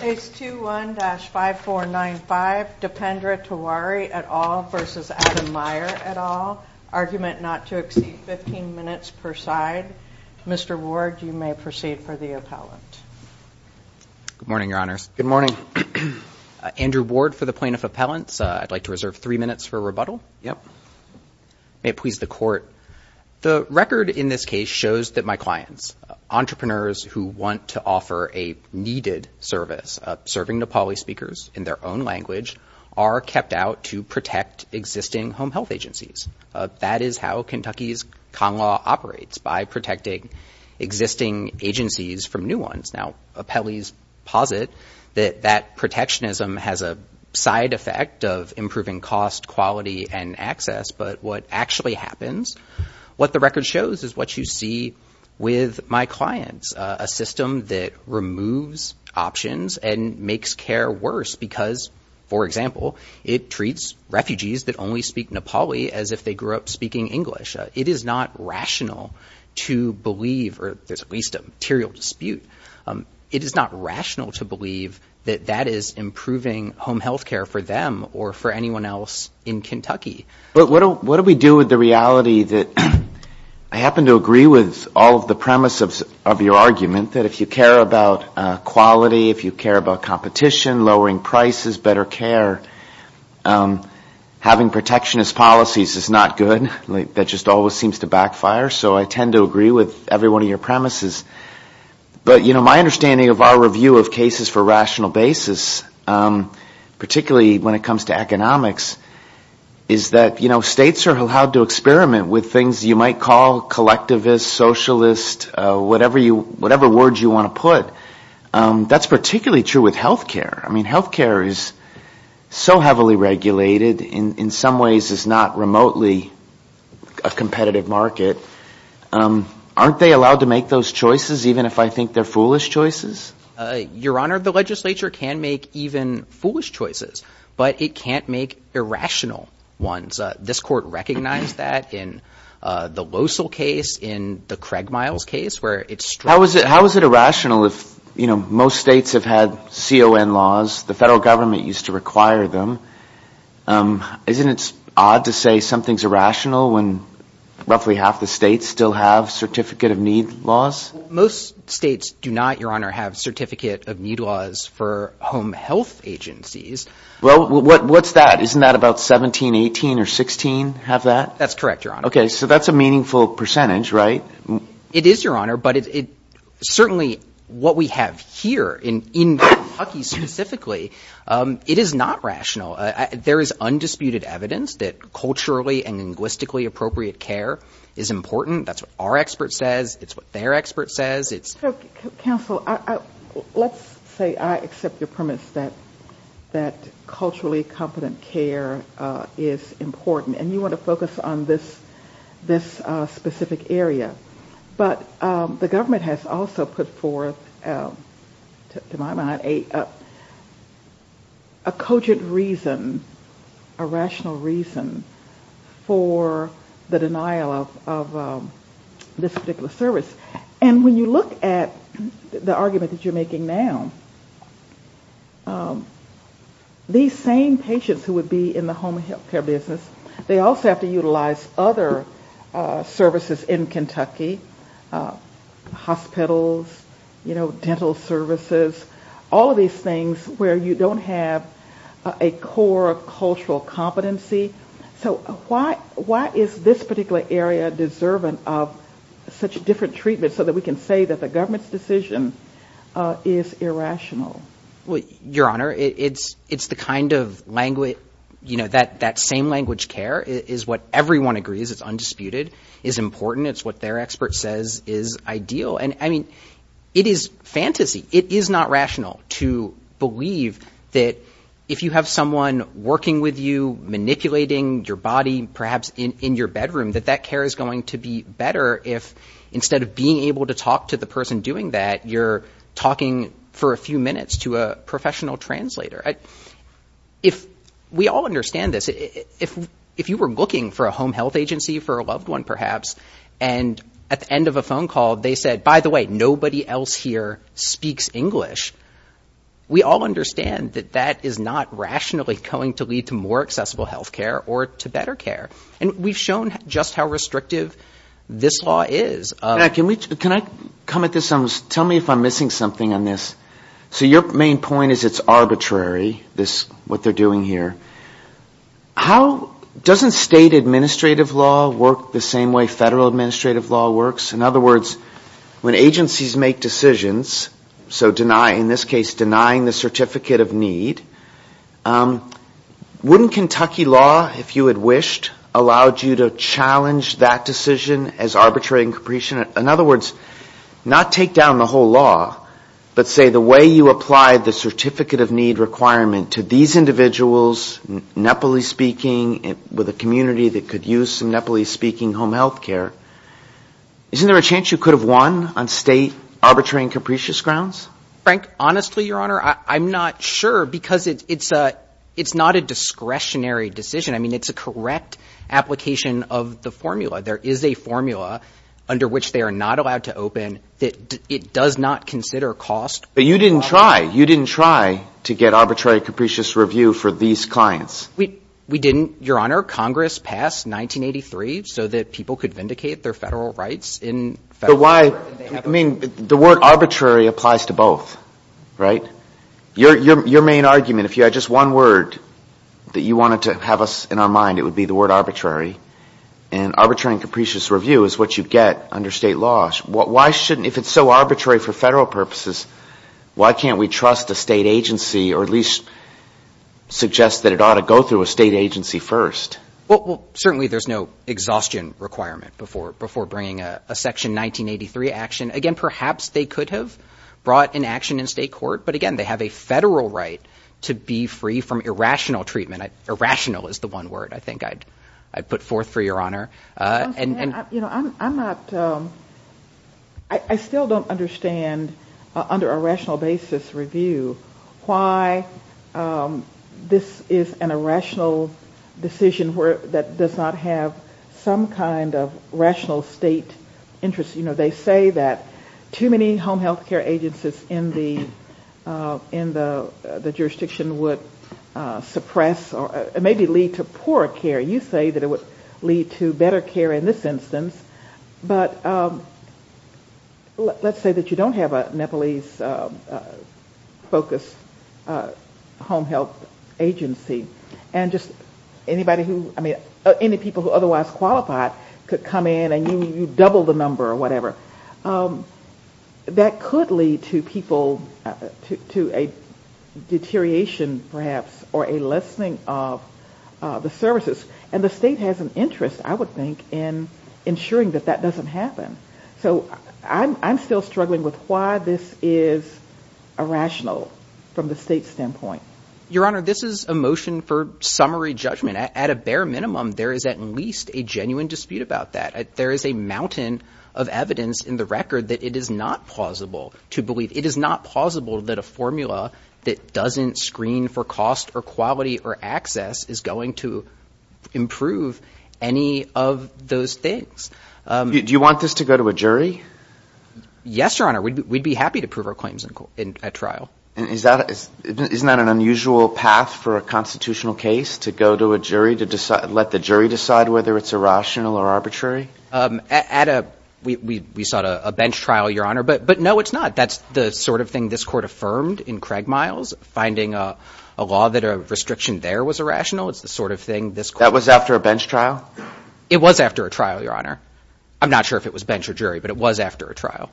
Page 21-5495 Dependra Tiwari et al. v. Adam Meier et al. Argument not to exceed 15 minutes per side. Mr. Ward, you may proceed for the appellant. Good morning, Your Honors. Good morning. Andrew Ward for the plaintiff appellants. I'd like to reserve three minutes for rebuttal. Yep. May it please the court. The record in this case shows that my clients, entrepreneurs who want to offer a needed service, serving Nepali speakers in their own language, are kept out to protect existing home health agencies. That is how Kentucky's con law operates, by protecting existing agencies from new ones. Now, appellees posit that that protectionism has a side effect of improving cost, quality, and access, but what actually happens, what the record shows is what you see with my clients. A system that removes options and makes care worse because, for example, it treats refugees that only speak Nepali as if they grew up speaking English. It is not rational to believe, or there's at least a material dispute, it is not rational to believe that that is improving home health care for them, or for anyone else in Kentucky. What do we do with the reality that I happen to agree with all of the premise of your argument, that if you care about quality, if you care about competition, lowering prices, better care, having protectionist policies is not good. That just always seems to backfire, so I tend to agree with every one of your premises. But, you know, my understanding of our review of cases for rational basis, particularly when it comes to economics, is that, you know, states are allowed to experiment with things you might call collectivist, socialist, whatever words you want to put. That's particularly true with health care. I mean, health care is so heavily regulated, in some ways is not remotely a competitive market. Aren't they allowed to make those choices, even if I think they're foolish choices? Your Honor, the legislature can make even foolish choices, but it can't make irrational ones. This court recognized that in the Losell case, in the Craig Miles case, where it's… How is it irrational if, you know, most states have had CON laws, the federal government used to require them? Isn't it odd to say something's irrational when roughly half the states still have Certificate of Need laws? Most states do not, Your Honor, have Certificate of Need laws for home health agencies. Well, what's that? Isn't that about 17, 18, or 16 have that? That's correct, Your Honor. OK, so that's a meaningful percentage, right? It is, Your Honor, but it's certainly what we have here in Kentucky specifically, it is not rational. There is undisputed evidence that culturally and linguistically appropriate care is important. That's what our expert says, it's what their expert says, it's… Counsel, let's say I accept your premise that culturally competent care is important, and you want to focus on this specific area, but the government has also put forth, to my mind, a cogent reason, a rational reason for the denial of this particular service. And when you look at the argument that you're making now, these same patients who would be in the home health care business, they also have to utilize other services in Kentucky, hospitals, dental services, all of these things where you don't have a core of cultural competency. So why is this particular area deserving of such different treatment so that we can say that the government's decision is irrational? Well, Your Honor, it's the kind of language, that same language care is what everyone agrees, it's undisputed, it's important, it's what their expert says is ideal. And I mean, it is fantasy. It is not rational to believe that if you have someone working with you, manipulating your body, perhaps in your bedroom, that that care is going to be better if, instead of being able to talk to the person doing that, you're talking for a few minutes to a professional translator. I, if we all understand this, if you were looking for a home health agency for a loved one, perhaps, and at the end of a phone call, they said, by the way, nobody else here speaks English. We all understand that that is not rationally going to lead to more accessible health care or to better care. And we've shown just how restrictive this law is. Yeah, can we, can I come at this, tell me if I'm missing something on this. So your main point is it's arbitrary, this, what they're doing here. How, doesn't state administrative law work the same way federal administrative law works? In other words, when agencies make decisions, so deny, in this case, denying the certificate of need, wouldn't Kentucky law, if you had wished, allowed you to challenge that decision as arbitrary and capricious, in other words, not take down the whole law, but say the way you apply the certificate of need requirement to these individuals, Nepali speaking, with a community that could use some Nepali speaking home health care, isn't there a chance you could have won on state arbitrary and capricious grounds? Frank, honestly, your honor, I'm not sure because it's, it's a, it's not a discretionary decision. There is a formula under which they are not allowed to open that it does not consider cost. But you didn't try, you didn't try to get arbitrary capricious review for these clients. We, we didn't, your honor. Congress passed 1983 so that people could vindicate their federal rights in federal. But why, I mean, the word arbitrary applies to both, right? Your, your, your main argument, if you had just one word that you wanted to have us in our mind, it would be the word arbitrary. And arbitrary and capricious review is what you get under state laws. What, why shouldn't, if it's so arbitrary for federal purposes, why can't we trust a state agency or at least suggest that it ought to go through a state agency first? Well, certainly there's no exhaustion requirement before, before bringing a section 1983 action. Again, perhaps they could have brought an action in state court. But again, they have a federal right to be free from irrational treatment. Irrational is the one word I think I'd, I'd put forth for your honor. And, and, you know, I'm, I'm not, I still don't understand under a rational basis review why this is an irrational decision where that does not have some kind of rational state interest. You know, they say that too many home health care agencies in the, in the, the jurisdiction would suppress or maybe lead to poor care. You say that it would lead to better care in this instance, but let's say that you don't have a Nepalese focused home health agency and just anybody who, I mean, any people who otherwise qualified could come in and you double the number or whatever. Um, that could lead to people to, to a deterioration perhaps, or a lessening of, uh, the services and the state has an interest I would think in ensuring that that doesn't happen. So I'm, I'm still struggling with why this is a rational from the state standpoint. Your honor, this is a motion for summary judgment at a bare minimum. There is at least a genuine dispute about that. There is a mountain of evidence in the record that it is not plausible to believe. It is not plausible that a formula that doesn't screen for cost or quality or access is going to improve any of those things. Do you want this to go to a jury? Yes, your honor. We'd be happy to prove our claims in a trial. And is that, isn't that an unusual path for a constitutional case to go to a jury to decide, let the jury decide whether it's irrational or arbitrary? At a, we, we, we sought a bench trial, your honor, but, but no, it's not. That's the sort of thing this court affirmed in Craig Miles, finding a law that a restriction there was irrational. It's the sort of thing this court... That was after a bench trial? It was after a trial, your honor. I'm not sure if it was bench or jury, but it was after a trial.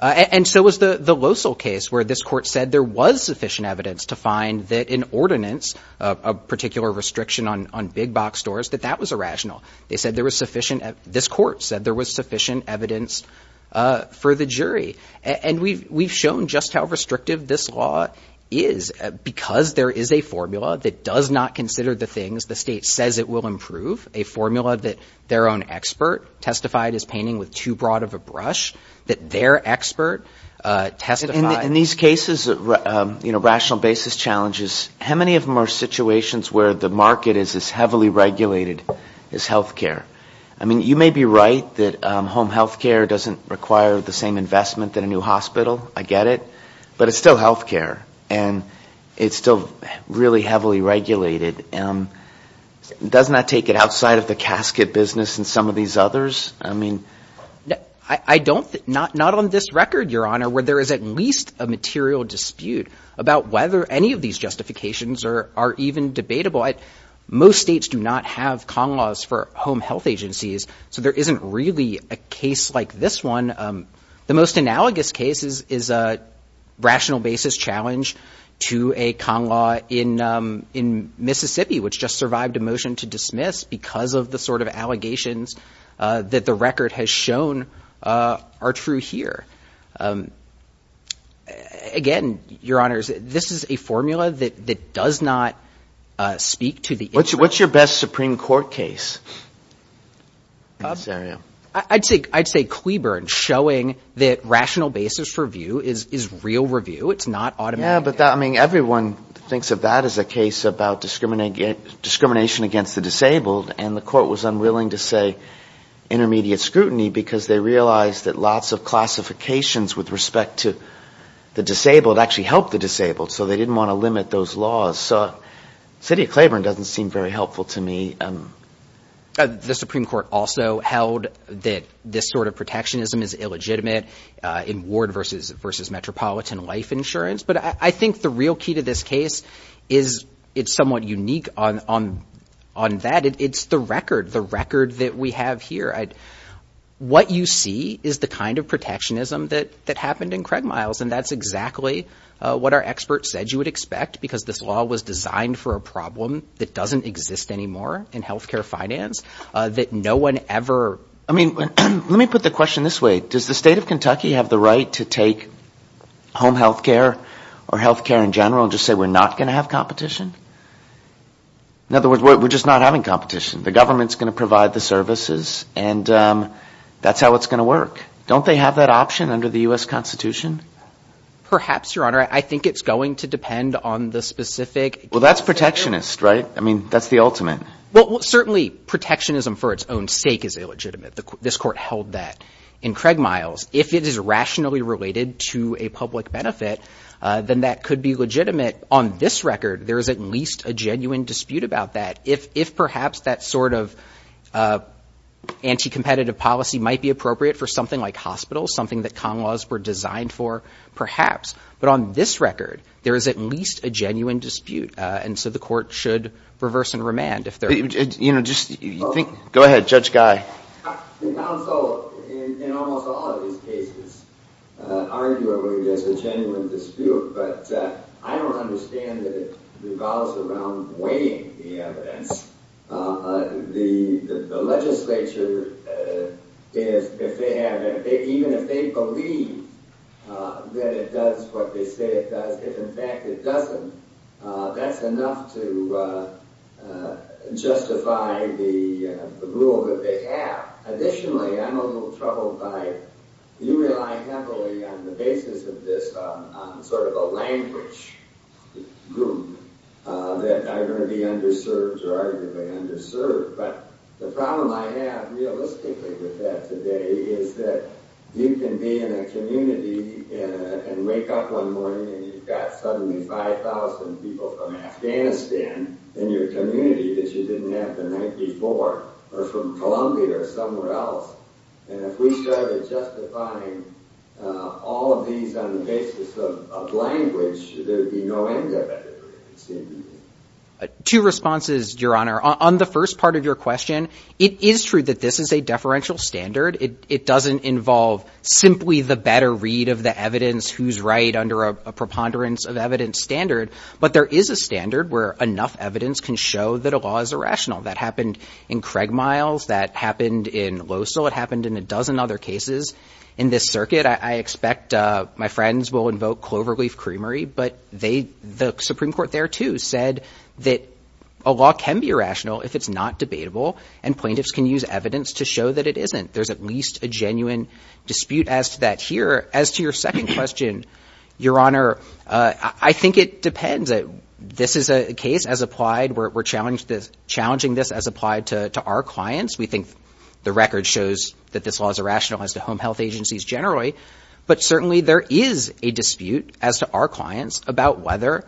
And so was the, the Losal case where this court said there was sufficient evidence to find that in ordinance, a particular restriction on, on big box stores, that that was irrational. They said there was sufficient. This court said there was sufficient evidence for the jury. And we've, we've shown just how restrictive this law is because there is a formula that does not consider the things the state says it will improve. A formula that their own expert testified is painting with too broad of a brush, that their expert testified... In these cases, you know, rational basis challenges, how many of them are situations where the market is as heavily regulated, as healthcare? I mean, you may be right that home healthcare doesn't require the same investment than a new hospital. I get it, but it's still healthcare and it's still really heavily regulated. Doesn't that take it outside of the casket business and some of these others? I mean, I don't, not, not on this record, your honor, where there is at least a material dispute about whether any of these justifications are, are even debatable. Most states do not have Kong laws for home health agencies. So there isn't really a case like this one. The most analogous cases is a rational basis challenge to a Kong law in, in Mississippi, which just survived a motion to dismiss because of the sort of allegations that the record has shown are true here. Again, your honors, this is a formula that, that does not speak to the... What's your, what's your best Supreme Court case? I'd say, I'd say Cleburne showing that rational basis review is, is real review. It's not automatic. Yeah, but that, I mean, everyone thinks of that as a case about discriminating, discrimination against the disabled. And the court was unwilling to say intermediate scrutiny because they realized that lots of classifications with respect to the disabled actually helped the disabled. So they didn't want to limit those laws. So city of Cleburne doesn't seem very helpful to me. The Supreme Court also held that this sort of protectionism is illegitimate in ward versus, versus metropolitan life insurance. But I think the real key to this case is it's somewhat unique on, on, on that. It's the record, the record that we have here. What you see is the kind of protectionism that, that happened in Craig Miles. And that's exactly what our experts said you would expect because this law was designed for a problem that doesn't exist anymore in healthcare finance that no one ever... I mean, let me put the question this way. Does the state of Kentucky have the right to take home healthcare or healthcare in general and just say, we're not going to have competition? In other words, we're just not having competition. The government's going to provide the services and that's how it's going to work. Don't they have that option under the U.S. Constitution? Perhaps, Your Honor. I think it's going to depend on the specific... Well, that's protectionist, right? I mean, that's the ultimate. Well, certainly protectionism for its own sake is illegitimate. This court held that in Craig Miles. If it is rationally related to a public benefit, then that could be legitimate. On this record, there is at least a genuine dispute about that. If perhaps that sort of anti-competitive policy might be appropriate for something like hospitals, something that Kong laws were designed for, perhaps. But on this record, there is at least a genuine dispute. And so the court should reverse and remand if they're... You know, just think... Go ahead, Judge Guy. The counsel in almost all of these cases argue that there's a genuine dispute, but I don't understand that it revolves around weighing the evidence. The legislature, if they have... Even if they believe that it does what they say it does, if in fact it doesn't, that's enough to justify the rule that they have. Additionally, I'm a little troubled by... You rely heavily on the basis of this sort of a language group that are going to be underserved or arguably underserved. But the problem I have realistically with that today is that you can be in a community and wake up one morning and you've got suddenly 5,000 people from Afghanistan in your community that you didn't have the night before, or from Columbia or somewhere else. And if we started justifying all of these on the basis of language, there would be no end of it, it seems to me. Two responses, Your Honor. On the first part of your question, it is true that this is a deferential standard. It doesn't involve simply the better read of the evidence, who's right under a preponderance of evidence standard. But there is a standard where enough evidence can show that a law is irrational. That happened in Craig Miles. That happened in Losell. It happened in a dozen other cases in this circuit. I expect my friends will invoke cloverleaf creamery, but the Supreme Court there too said that a law can be irrational if it's not debatable and plaintiffs can use evidence to show that it isn't. There's at least a genuine dispute as to that here. As to your second question, Your Honor, I think it depends. This is a case as applied. We're challenging this as applied to our clients. We think the record shows that this law is irrational as to home health agencies generally, but certainly there is a dispute as to our clients about whether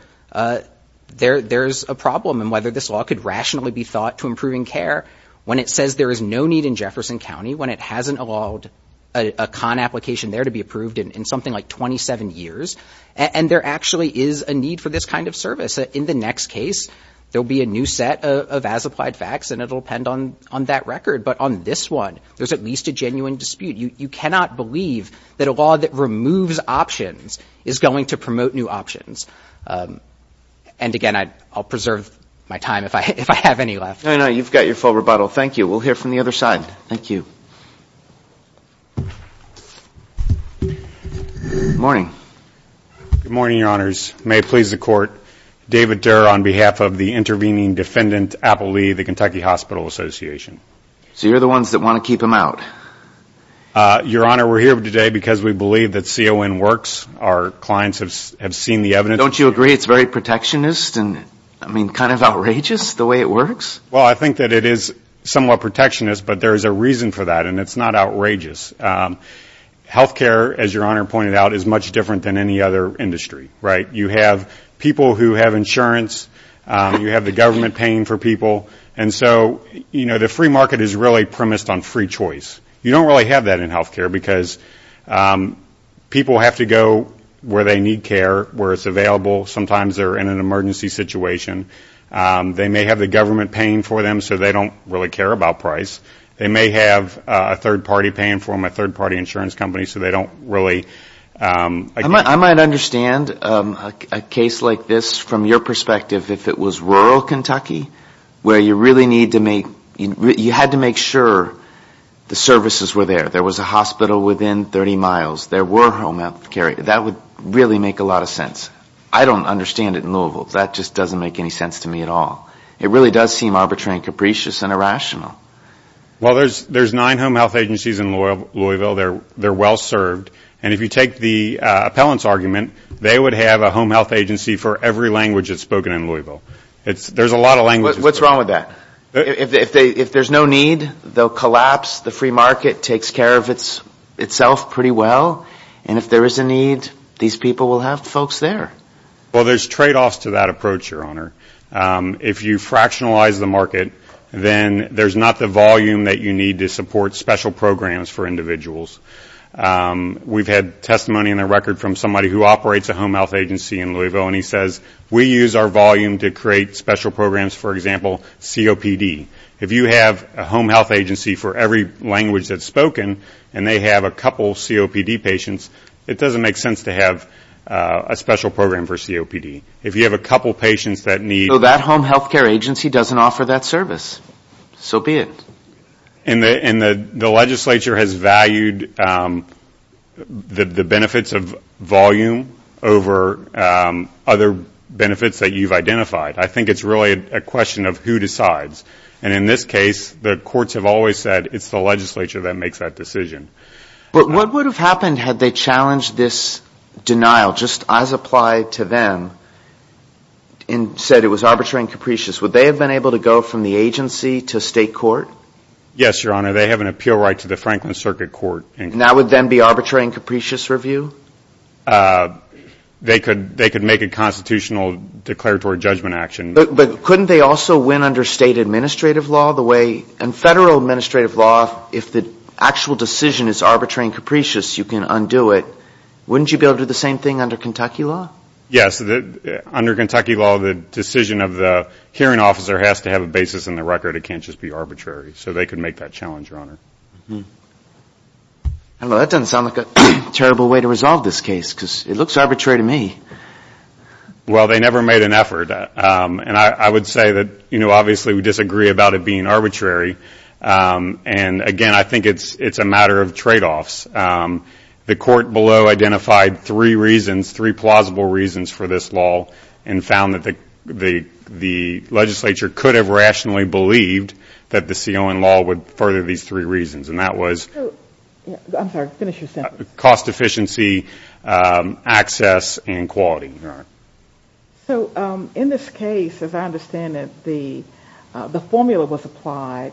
there's a problem and whether this law could rationally be thought to improving care when it says there is no need in Jefferson County, when it hasn't allowed a con application there to be approved in something like 27 years. And there actually is a need for this kind of service. In the next case, there'll be a new set of as applied facts and it'll depend on that record. But on this one, there's at least a genuine dispute. You cannot believe that a law that removes options is going to promote new options. And again, I'll preserve my time if I have any left. No, no, you've got your full rebuttal. Thank you. We'll hear from the other side. Thank you. Morning. Good morning, Your Honors. May it please the Court, David Durr on behalf of the intervening defendant, Apple Lee, the Kentucky Hospital Association. So you're the ones that want to keep him out? Your Honor, we're here today because we believe that CON works. Our clients have seen the evidence. Don't you agree it's very protectionist and, I mean, kind of outrageous the way it works? Well, I think that it is somewhat protectionist, but there is a reason for that and it's not outrageous. Healthcare, as Your Honor pointed out, is much different than any other industry, right? You have people who have insurance. You have the government paying for people. And so, you know, the free market is really premised on free choice. You don't really have that in healthcare because people have to go where they need care, where it's available. Sometimes they're in an emergency situation. They may have the government paying for them so they don't really care about price. They may have a third party paying for them, a third party insurance company, so they don't really... If it was rural Kentucky where you really need to make... You had to make sure the services were there. There was a hospital within 30 miles. There were home health care. That would really make a lot of sense. I don't understand it in Louisville. That just doesn't make any sense to me at all. It really does seem arbitrary and capricious and irrational. Well, there's nine home health agencies in Louisville. They're well served. And if you take the appellant's argument, they would have a home health agency for every language that's spoken in Louisville. There's a lot of languages there. What's wrong with that? If there's no need, they'll collapse. The free market takes care of itself pretty well. And if there is a need, these people will have folks there. Well, there's trade-offs to that approach, Your Honor. If you fractionalize the market, then there's not the volume that you need to support special programs for individuals. We've had testimony in the record from somebody who operates a home health agency in Louisville. And he says, we use our volume to create special programs, for example, COPD. If you have a home health agency for every language that's spoken, and they have a couple COPD patients, it doesn't make sense to have a special program for COPD. If you have a couple patients that need... Well, that home health care agency doesn't offer that service. So be it. And the legislature has valued the benefits of volume over other benefits that you've identified. I think it's really a question of who decides. And in this case, the courts have always said, it's the legislature that makes that decision. But what would have happened had they challenged this denial, just as applied to them, and said it was arbitrary and capricious? Would they have been able to go from the agency to state court? Yes, Your Honor. They have an appeal right to the Franklin Circuit Court. And that would then be arbitrary and capricious review? They could make a constitutional declaratory judgment action. But couldn't they also win under state administrative law the way... And federal administrative law, if the actual decision is arbitrary and capricious, you can undo it. Wouldn't you be able to do the same thing under Kentucky law? Yes, under Kentucky law, the decision of the hearing officer has to have a basis in the record. It can't just be arbitrary. So they could make that challenge, Your Honor. I don't know. That doesn't sound like a terrible way to resolve this case because it looks arbitrary to me. Well, they never made an effort. And I would say that, you know, obviously we disagree about it being arbitrary. And again, I think it's a matter of trade-offs. The court below identified three reasons, three plausible reasons for this law, and found that the legislature could have rationally believed that the CON law would further these three reasons. And that was... I'm sorry, finish your sentence. Cost efficiency, access, and quality. So in this case, as I understand it, the formula was applied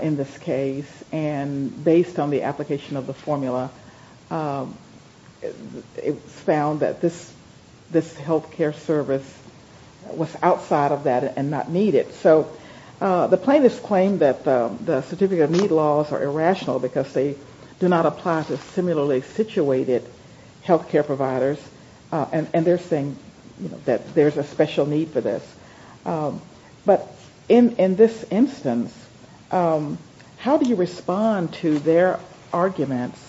in this case. And based on the application of the formula, it was found that this health care service was outside of that and not needed. So the plaintiffs claim that the certificate of need laws are irrational because they do not apply to similarly situated health care providers. And they're saying that there's a special need for this. But in this instance, how do you respond to their arguments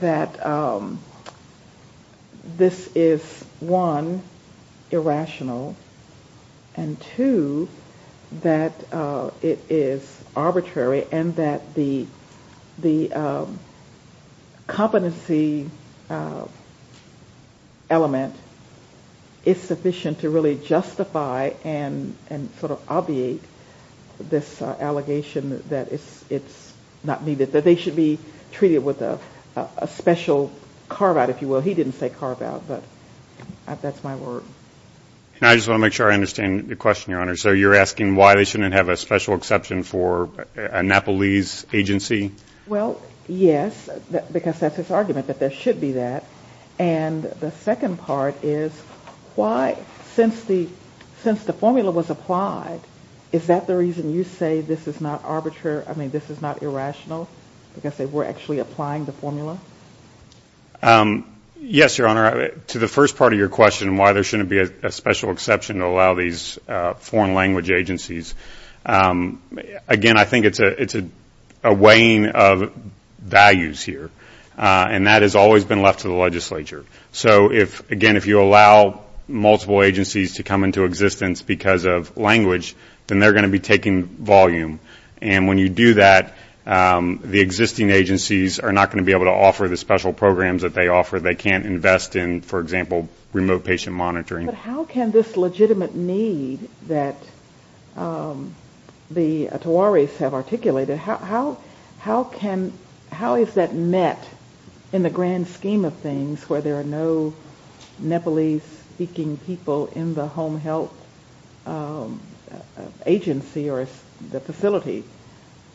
that this is, one, irrational, and two, that it is arbitrary and that the competency element is sufficient to really justify and sort of obviate this allegation that it's not needed, that they should be treated with a special carve-out, if you will. He didn't say carve-out, but that's my word. And I just want to make sure I understand the question, Your Honor. So you're asking why they shouldn't have a special exception for a Nepalese agency? Well, yes, because that's his argument that there should be that. And the second part is, why, since the formula was applied, is that the reason you say this is not arbitrary, I mean, this is not irrational because they were actually applying the formula? Yes, Your Honor. To the first part of your question, why there shouldn't be a special exception to allow these foreign language agencies, again, I think it's a weighing of values here. And that has always been left to the legislature. So if, again, if you allow multiple agencies to come into existence because of language, then they're going to be taking volume. And when you do that, the existing agencies are not going to be able to offer the special programs that they offer. They can't invest in, for example, remote patient monitoring. But how can this legitimate need that the Tawaris have articulated, how is that met in the grand scheme of things where there are no Nepalese-speaking people in the home health agency or the facility?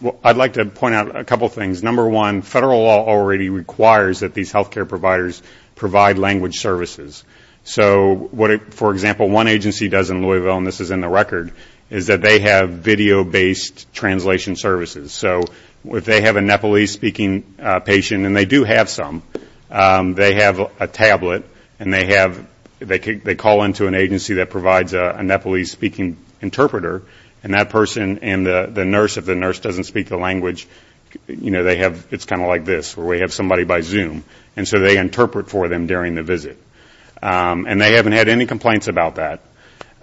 Well, I'd like to point out a couple of things. Number one, federal law already requires that these health care providers provide language services. So for example, one agency does in Louisville, and this is in the record, is that they have video-based translation services. So if they have a Nepalese-speaking patient, and they do have some, they have a tablet and they call into an agency that provides a Nepalese-speaking interpreter. And that person and the nurse, if the nurse doesn't speak the language, it's kind of like this, where we have somebody by Zoom. And so they interpret for them during the visit. And they haven't had any complaints about that.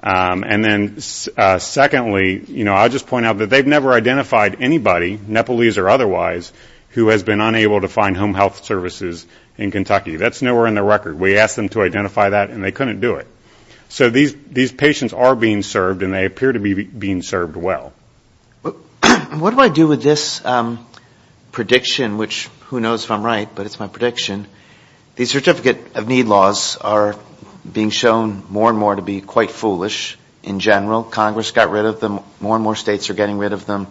And then secondly, I'll just point out that they've never identified anybody, Nepalese or otherwise, who has been unable to find home health services in Kentucky. That's nowhere in the record. We asked them to identify that, and they couldn't do it. So these patients are being served, and they appear to be being served well. What do I do with this prediction, which who knows if I'm right, but it's my prediction. These certificate of need laws are being shown more and more to be quite foolish in general. Congress got rid of them. More and more states are getting rid of them.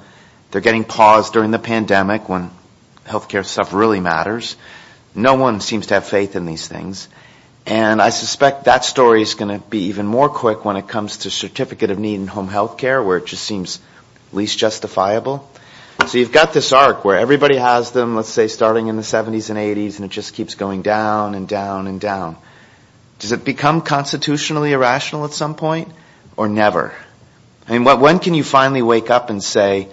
They're getting paused during the pandemic when healthcare stuff really matters. No one seems to have faith in these things. And I suspect that story is going to be even more quick when it comes to certificate of need in home healthcare, where it just seems least justifiable. So you've got this arc where everybody has them, starting in the 70s and 80s, and it just keeps going down and down and down. Does it become constitutionally irrational at some point or never? When can you finally wake up and say,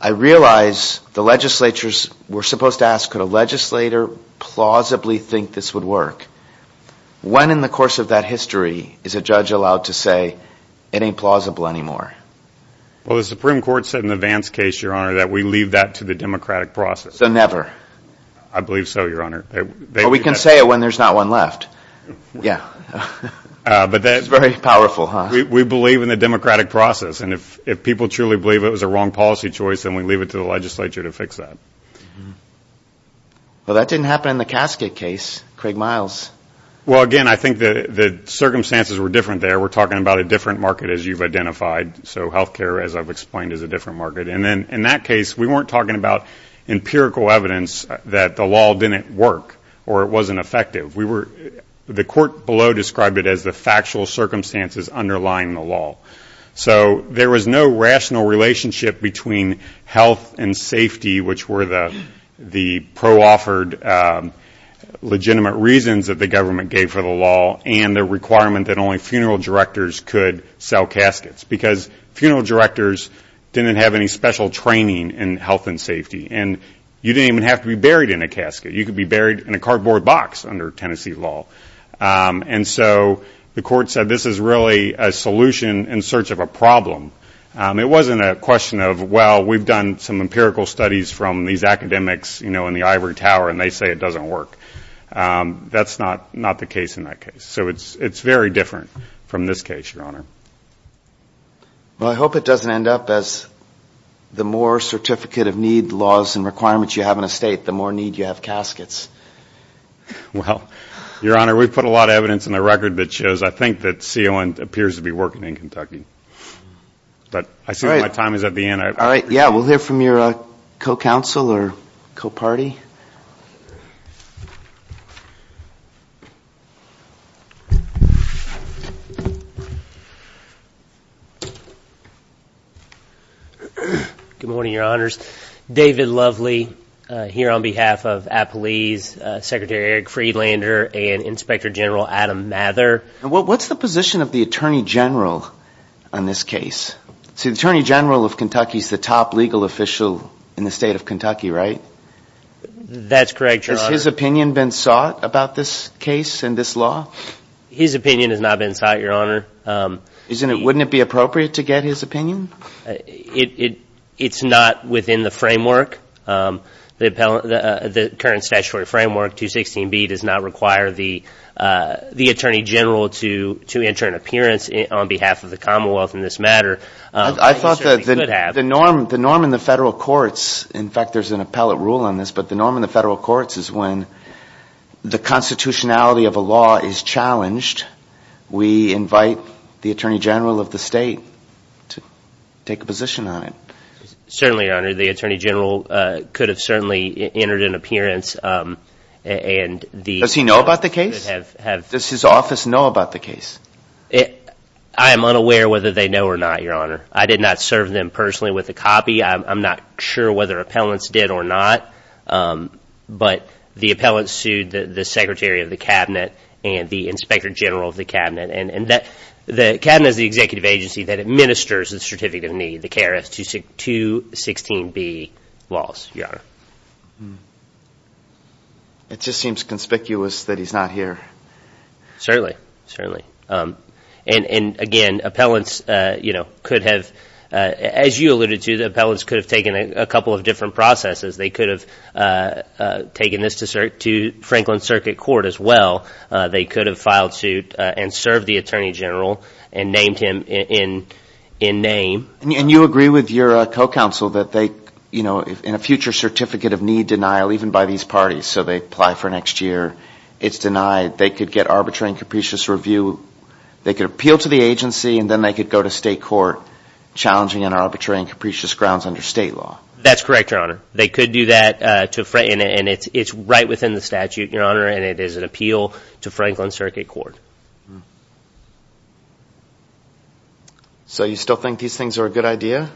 I realize the legislatures were supposed to ask, could a legislator plausibly think this would work? When in the course of that history is a judge allowed to say it ain't plausible anymore? Well, the Supreme Court said in the Vance case, Your Honor, that we leave that to the democratic process. So never. I believe so, Your Honor. We can say it when there's not one left. Yeah. But that's very powerful. We believe in the democratic process. And if people truly believe it was a wrong policy choice, then we leave it to the legislature to fix that. Well, that didn't happen in the casket case, Craig Miles. Well, again, I think the circumstances were different there. We're talking about a different market, as you've identified. So healthcare, as I've explained, is a different market. And then in that case, we weren't talking about empirical evidence that the law didn't work or it wasn't effective. The court below described it as the factual circumstances underlying the law. So there was no rational relationship between health and safety, which were the pro-offered legitimate reasons that the government gave for the law and the requirement that only funeral directors could sell caskets. Because funeral directors didn't have any special training in health and safety. And you didn't even have to be buried in a casket. You could be buried in a cardboard box under Tennessee law. And so the court said, this is really a solution in search of a problem. It wasn't a question of, well, we've done some empirical studies from these academics in the ivory tower, and they say it doesn't work. That's not the case in that case. So it's very different from this case, Your Honor. Well, I hope it doesn't end up as the Moore Certificate of Need laws and requirements you have in a state, the more need you have caskets. Well, Your Honor, we've put a lot of evidence in the record that shows, I think, that CON appears to be working in Kentucky. But I see my time is at the end. All right. Yeah. We'll hear from your co-counsel or co-party. Good morning, Your Honors. David Lovely here on behalf of Appalese, Secretary Eric Friedlander and Inspector General Adam Mather. What's the position of the Attorney General on this case? See, the Attorney General of Kentucky's the top legal official in the state of Kentucky, right? That's correct, Your Honor. Has his opinion been sought about this case and this law? His opinion has not been sought, Your Honor. Wouldn't it be appropriate to get his opinion? It's not within the framework. The current statutory framework, 216B, does not require the Attorney General to enter an appearance on behalf of the Commonwealth in this matter. I thought that the norm in the federal courts, in fact, there's an appellate rule on this, but the norm in the federal courts is when the constitutionality of a law is challenged, we invite the Attorney General of the state to take a position on it. Certainly, Your Honor. The Attorney General could have certainly entered an appearance. Does he know about the case? Does his office know about the case? I am unaware whether they know or not, Your Honor. I did not serve them personally with a copy. I'm not sure whether appellants did or not, but the appellant sued the Secretary of the Cabinet and the Inspector General of the Cabinet. The Cabinet is the executive agency that administers the certificate of need, the KRS-216B laws, Your Honor. It just seems conspicuous that he's not here. Certainly, certainly. And again, appellants could have, as you alluded to, the appellants could have taken a couple of different processes. They could have taken this to Franklin Circuit Court as well. They could have filed suit and served the Attorney General and named him in name. And you agree with your co-counsel that they, you know, in a future certificate of need denial, even by these parties, so they apply for next year, it's denied. They could get arbitrary and capricious review. They could appeal to the agency and then they could go to state court challenging on arbitrary and capricious grounds under state law. That's correct, Your Honor. They could do that to frame it, and it's right within the statute, Your Honor, and it is an appeal to Franklin Circuit Court. So you still think these things are a good idea?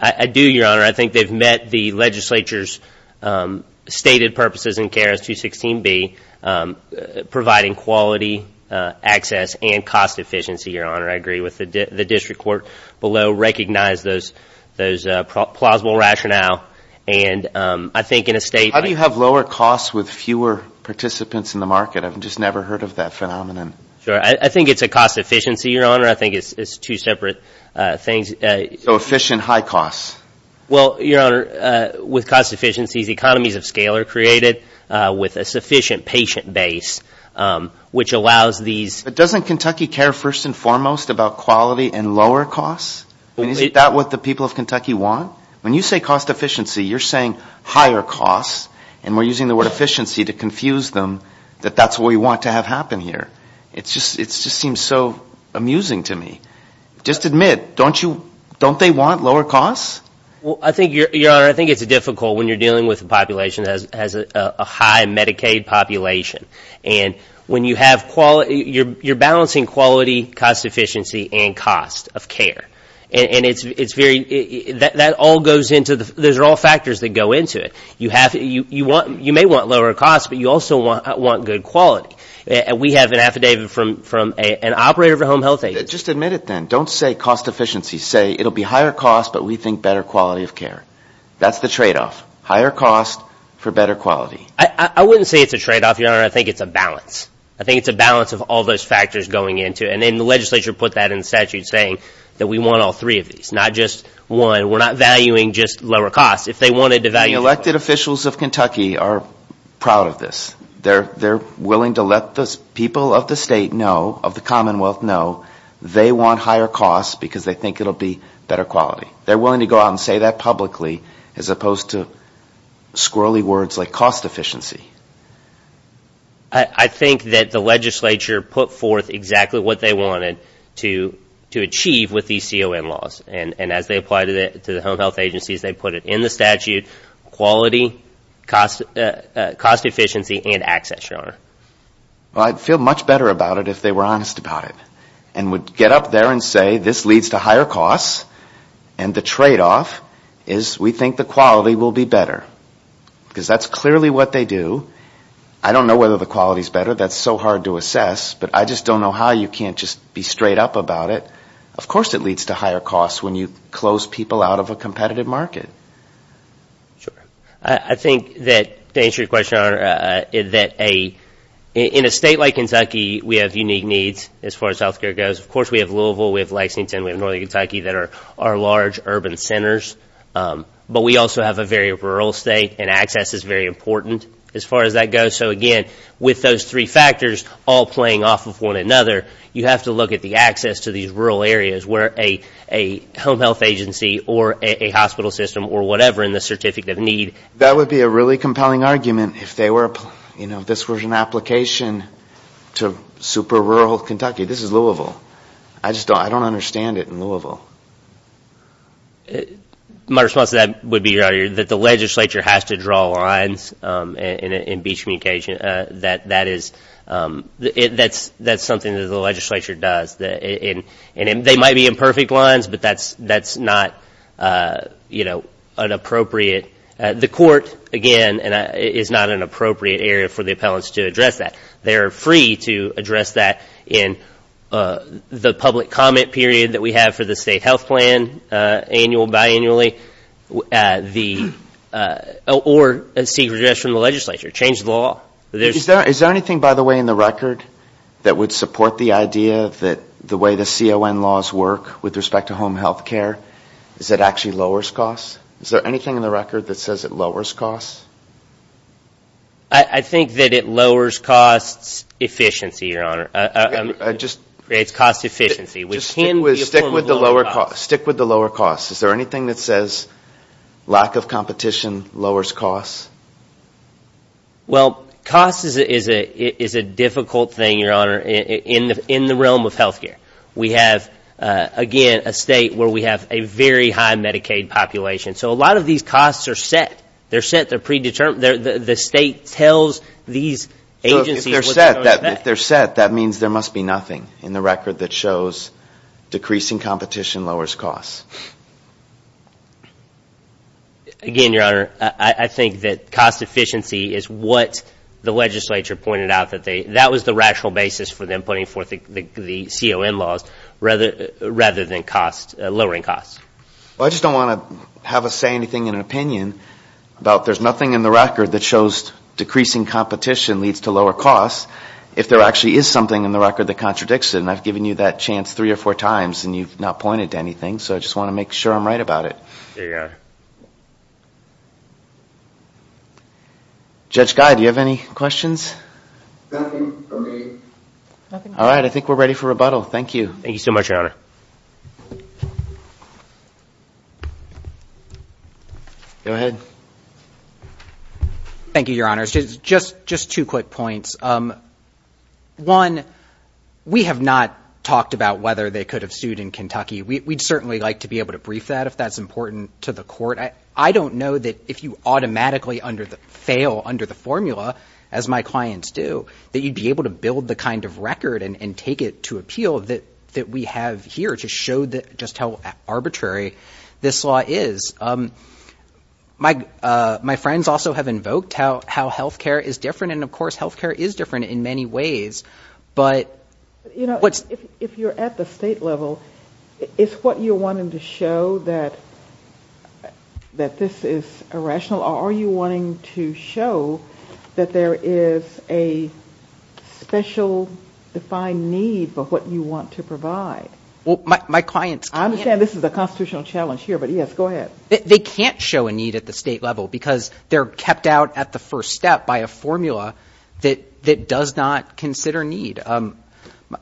I do, Your Honor. I think they've met the legislature's stated purposes in CARES 216B, providing quality access and cost efficiency, Your Honor. I agree with the district court below, recognize those plausible rationale. And I think in a state... How do you have lower costs with fewer participants in the market? I've just never heard of that phenomenon. I think it's a cost efficiency, Your Honor. I think it's two separate things. So efficient, high costs. Well, Your Honor, with cost efficiencies, economies of scale are created with a sufficient patient base, which allows these... But doesn't Kentucky care first and foremost about quality and lower costs? Is that what the people of Kentucky want? When you say cost efficiency, you're saying higher costs, and we're using the word efficiency to confuse them that that's what we want to have happen here. It just seems so amusing to me. Just admit, don't you... Don't they want lower costs? Well, I think, Your Honor, I think it's difficult when you're dealing with a population that has a high Medicaid population. And when you have quality... You're balancing quality, cost efficiency and cost of care. And it's very... That all goes into the... Those are all factors that go into it. You may want lower costs, but you also want good quality. We have an affidavit from an operator of a home health agency... Just admit it then. Don't say cost efficiency. Say it'll be higher cost, but we think better quality of care. That's the trade-off. Higher cost for better quality. I wouldn't say it's a trade-off, Your Honor. I think it's a balance. I think it's a balance of all those factors going into it. And then the legislature put that in statute, saying that we want all three of these, not just one. We're not valuing just lower costs. If they wanted to value... The elected officials of Kentucky are proud of this. They're willing to let the people of the state know, of the Commonwealth know, they want higher costs because they think it'll be better quality. They're willing to go out and say that publicly as opposed to squirrely words like cost efficiency. I think that the legislature put forth exactly what they wanted to achieve with these CON laws. And as they apply to the home health agencies, they put it in the statute, quality, cost efficiency, and access, Your Honor. Well, I'd feel much better about it if they were honest about it and would get up there and say this leads to higher costs. And the trade-off is we think the quality will be better because that's clearly what they do. I don't know whether the quality is better. That's so hard to assess. But I just don't know how you can't just be straight up about it. Of course it leads to higher costs when you close people out of a competitive market. Sure. I think that to answer your question, that in a state like Kentucky, we have unique needs as far as health care goes. Of course, we have Louisville, we have Lexington, we have Northern Kentucky that are large urban centers. But we also have a very rural state and access is very important as far as that goes. So again, with those three factors all playing off of one another, you have to look at the access to these rural areas where a home health agency or a hospital system or whatever in the certificate of need. That would be a really compelling argument if this was an application to super rural Kentucky. This is Louisville. I just don't understand it in Louisville. My response to that would be that the legislature has to draw lines in beach communication. That's something that the legislature does. And they might be imperfect lines, but that's not inappropriate. The court, again, is not an appropriate area for the appellants to address that. They're free to address that in the public comment period that we have for the state health plan, annual, biannually, or a secret address from the legislature. Change the law. Is there anything, by the way, in the record that would support the idea that the way the CON laws work with respect to home health care, is that actually lowers costs? Is there anything in the record that says it lowers costs? I think that it lowers costs efficiency, your honor. Creates cost efficiency. Stick with the lower costs. Is there anything that says lack of competition lowers costs? Well, cost is a difficult thing, your honor, in the realm of health care. We have, again, a state where we have a very high Medicaid population so a lot of these costs are set. They're set, they're predetermined. The state tells these agencies what they're going to pay. If they're set, that means there must be nothing in the record that shows decreasing competition lowers costs. Again, your honor, I think that cost efficiency is what the legislature pointed out that they, that was the rational basis for them putting forth the CON laws rather than lowering costs. Well, I just don't want to have us say anything in an opinion about there's nothing in the record that shows decreasing competition leads to lower costs if there actually is something in the record that contradicts it and I've given you that chance three or four times and you've not pointed to anything so I just want to make sure I'm right about it. Judge Guy, do you have any questions? All right, I think we're ready for rebuttal. Thank you. Thank you so much, your honor. Go ahead. Thank you, your honors. Just, just two quick points. One, we have not talked about whether they could have sued in Kentucky. We'd certainly like to be able to brief that if that's important to the court. I don't know that if you automatically under the, fail under the formula as my clients do, that you'd be able to build the kind of record and take it to appeal that we have here to show just how arbitrary it is this law is. My friends also have invoked how health care is different and of course, health care is different in many ways, but what's... If you're at the state level, it's what you're wanting to show that this is irrational or are you wanting to show that there is a special defined need for what you want to provide? Well, my clients... This is a constitutional challenge here, but yes, go ahead. They can't show a need at the state level because they're kept out at the first step by a formula that does not consider need.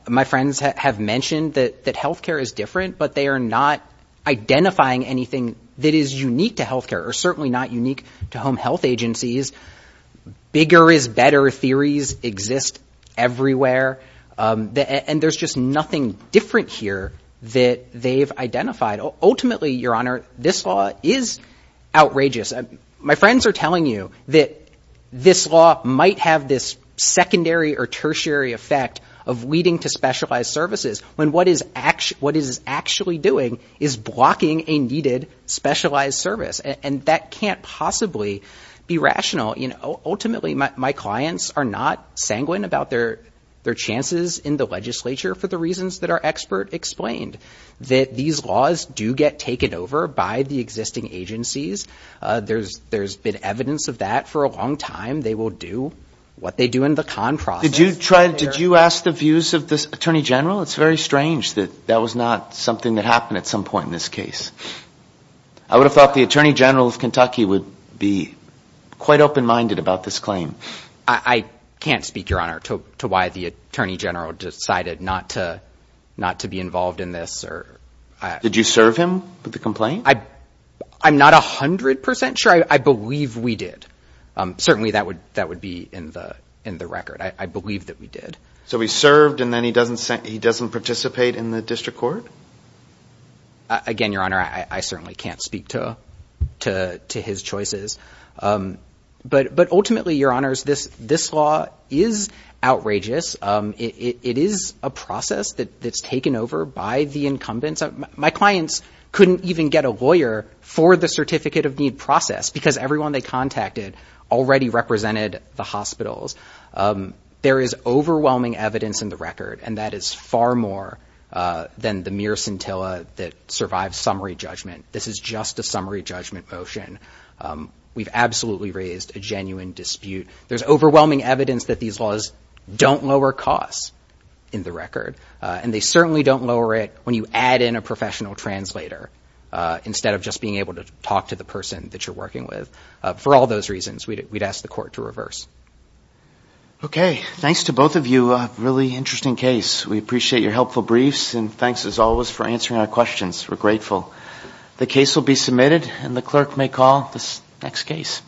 My friends have mentioned that health care is different, but they are not identifying anything that is unique to health care or certainly not unique to home health agencies. Bigger is better theories exist everywhere. And there's just nothing different here that they've identified. Ultimately, Your Honor, this law is outrageous. My friends are telling you that this law might have this secondary or tertiary effect of leading to specialized services when what it is actually doing is blocking a needed specialized service. And that can't possibly be rational. Ultimately, my clients are not sanguine about their chances in the legislature for the reasons that our expert explained, that these laws do get taken over by the existing agencies. There's been evidence of that for a long time. They will do what they do in the con process. Did you ask the views of this Attorney General? It's very strange that that was not something that happened at some point in this case. I would have thought the Attorney General of Kentucky would be quite open-minded about this claim. I can't speak, Your Honor, to why the Attorney General decided not to be involved in this. Did you serve him with the complaint? I'm not 100% sure. I believe we did. Certainly, that would be in the record. I believe that we did. So he served and then he doesn't participate in the district court? Again, Your Honor, I certainly can't speak to his choices. But ultimately, Your Honors, this law is outrageous. It is a process that's taken over by the incumbents. My clients couldn't even get a lawyer for the certificate of need process because everyone they contacted already represented the hospitals. There is overwhelming evidence in the record, and that is far more than the mere scintilla that survived summary judgment. This is just a summary judgment motion. We've absolutely raised a genuine dispute. There's overwhelming evidence that these laws don't lower costs in the record, and they certainly don't lower it when you add in a professional translator instead of just being able to talk to the person that you're working with. For all those reasons, we'd ask the court to reverse. Okay. Thanks to both of you. A really interesting case. We appreciate your helpful briefs and thanks, as always, for answering our questions. We're grateful. The case will be submitted and the clerk may call this next case.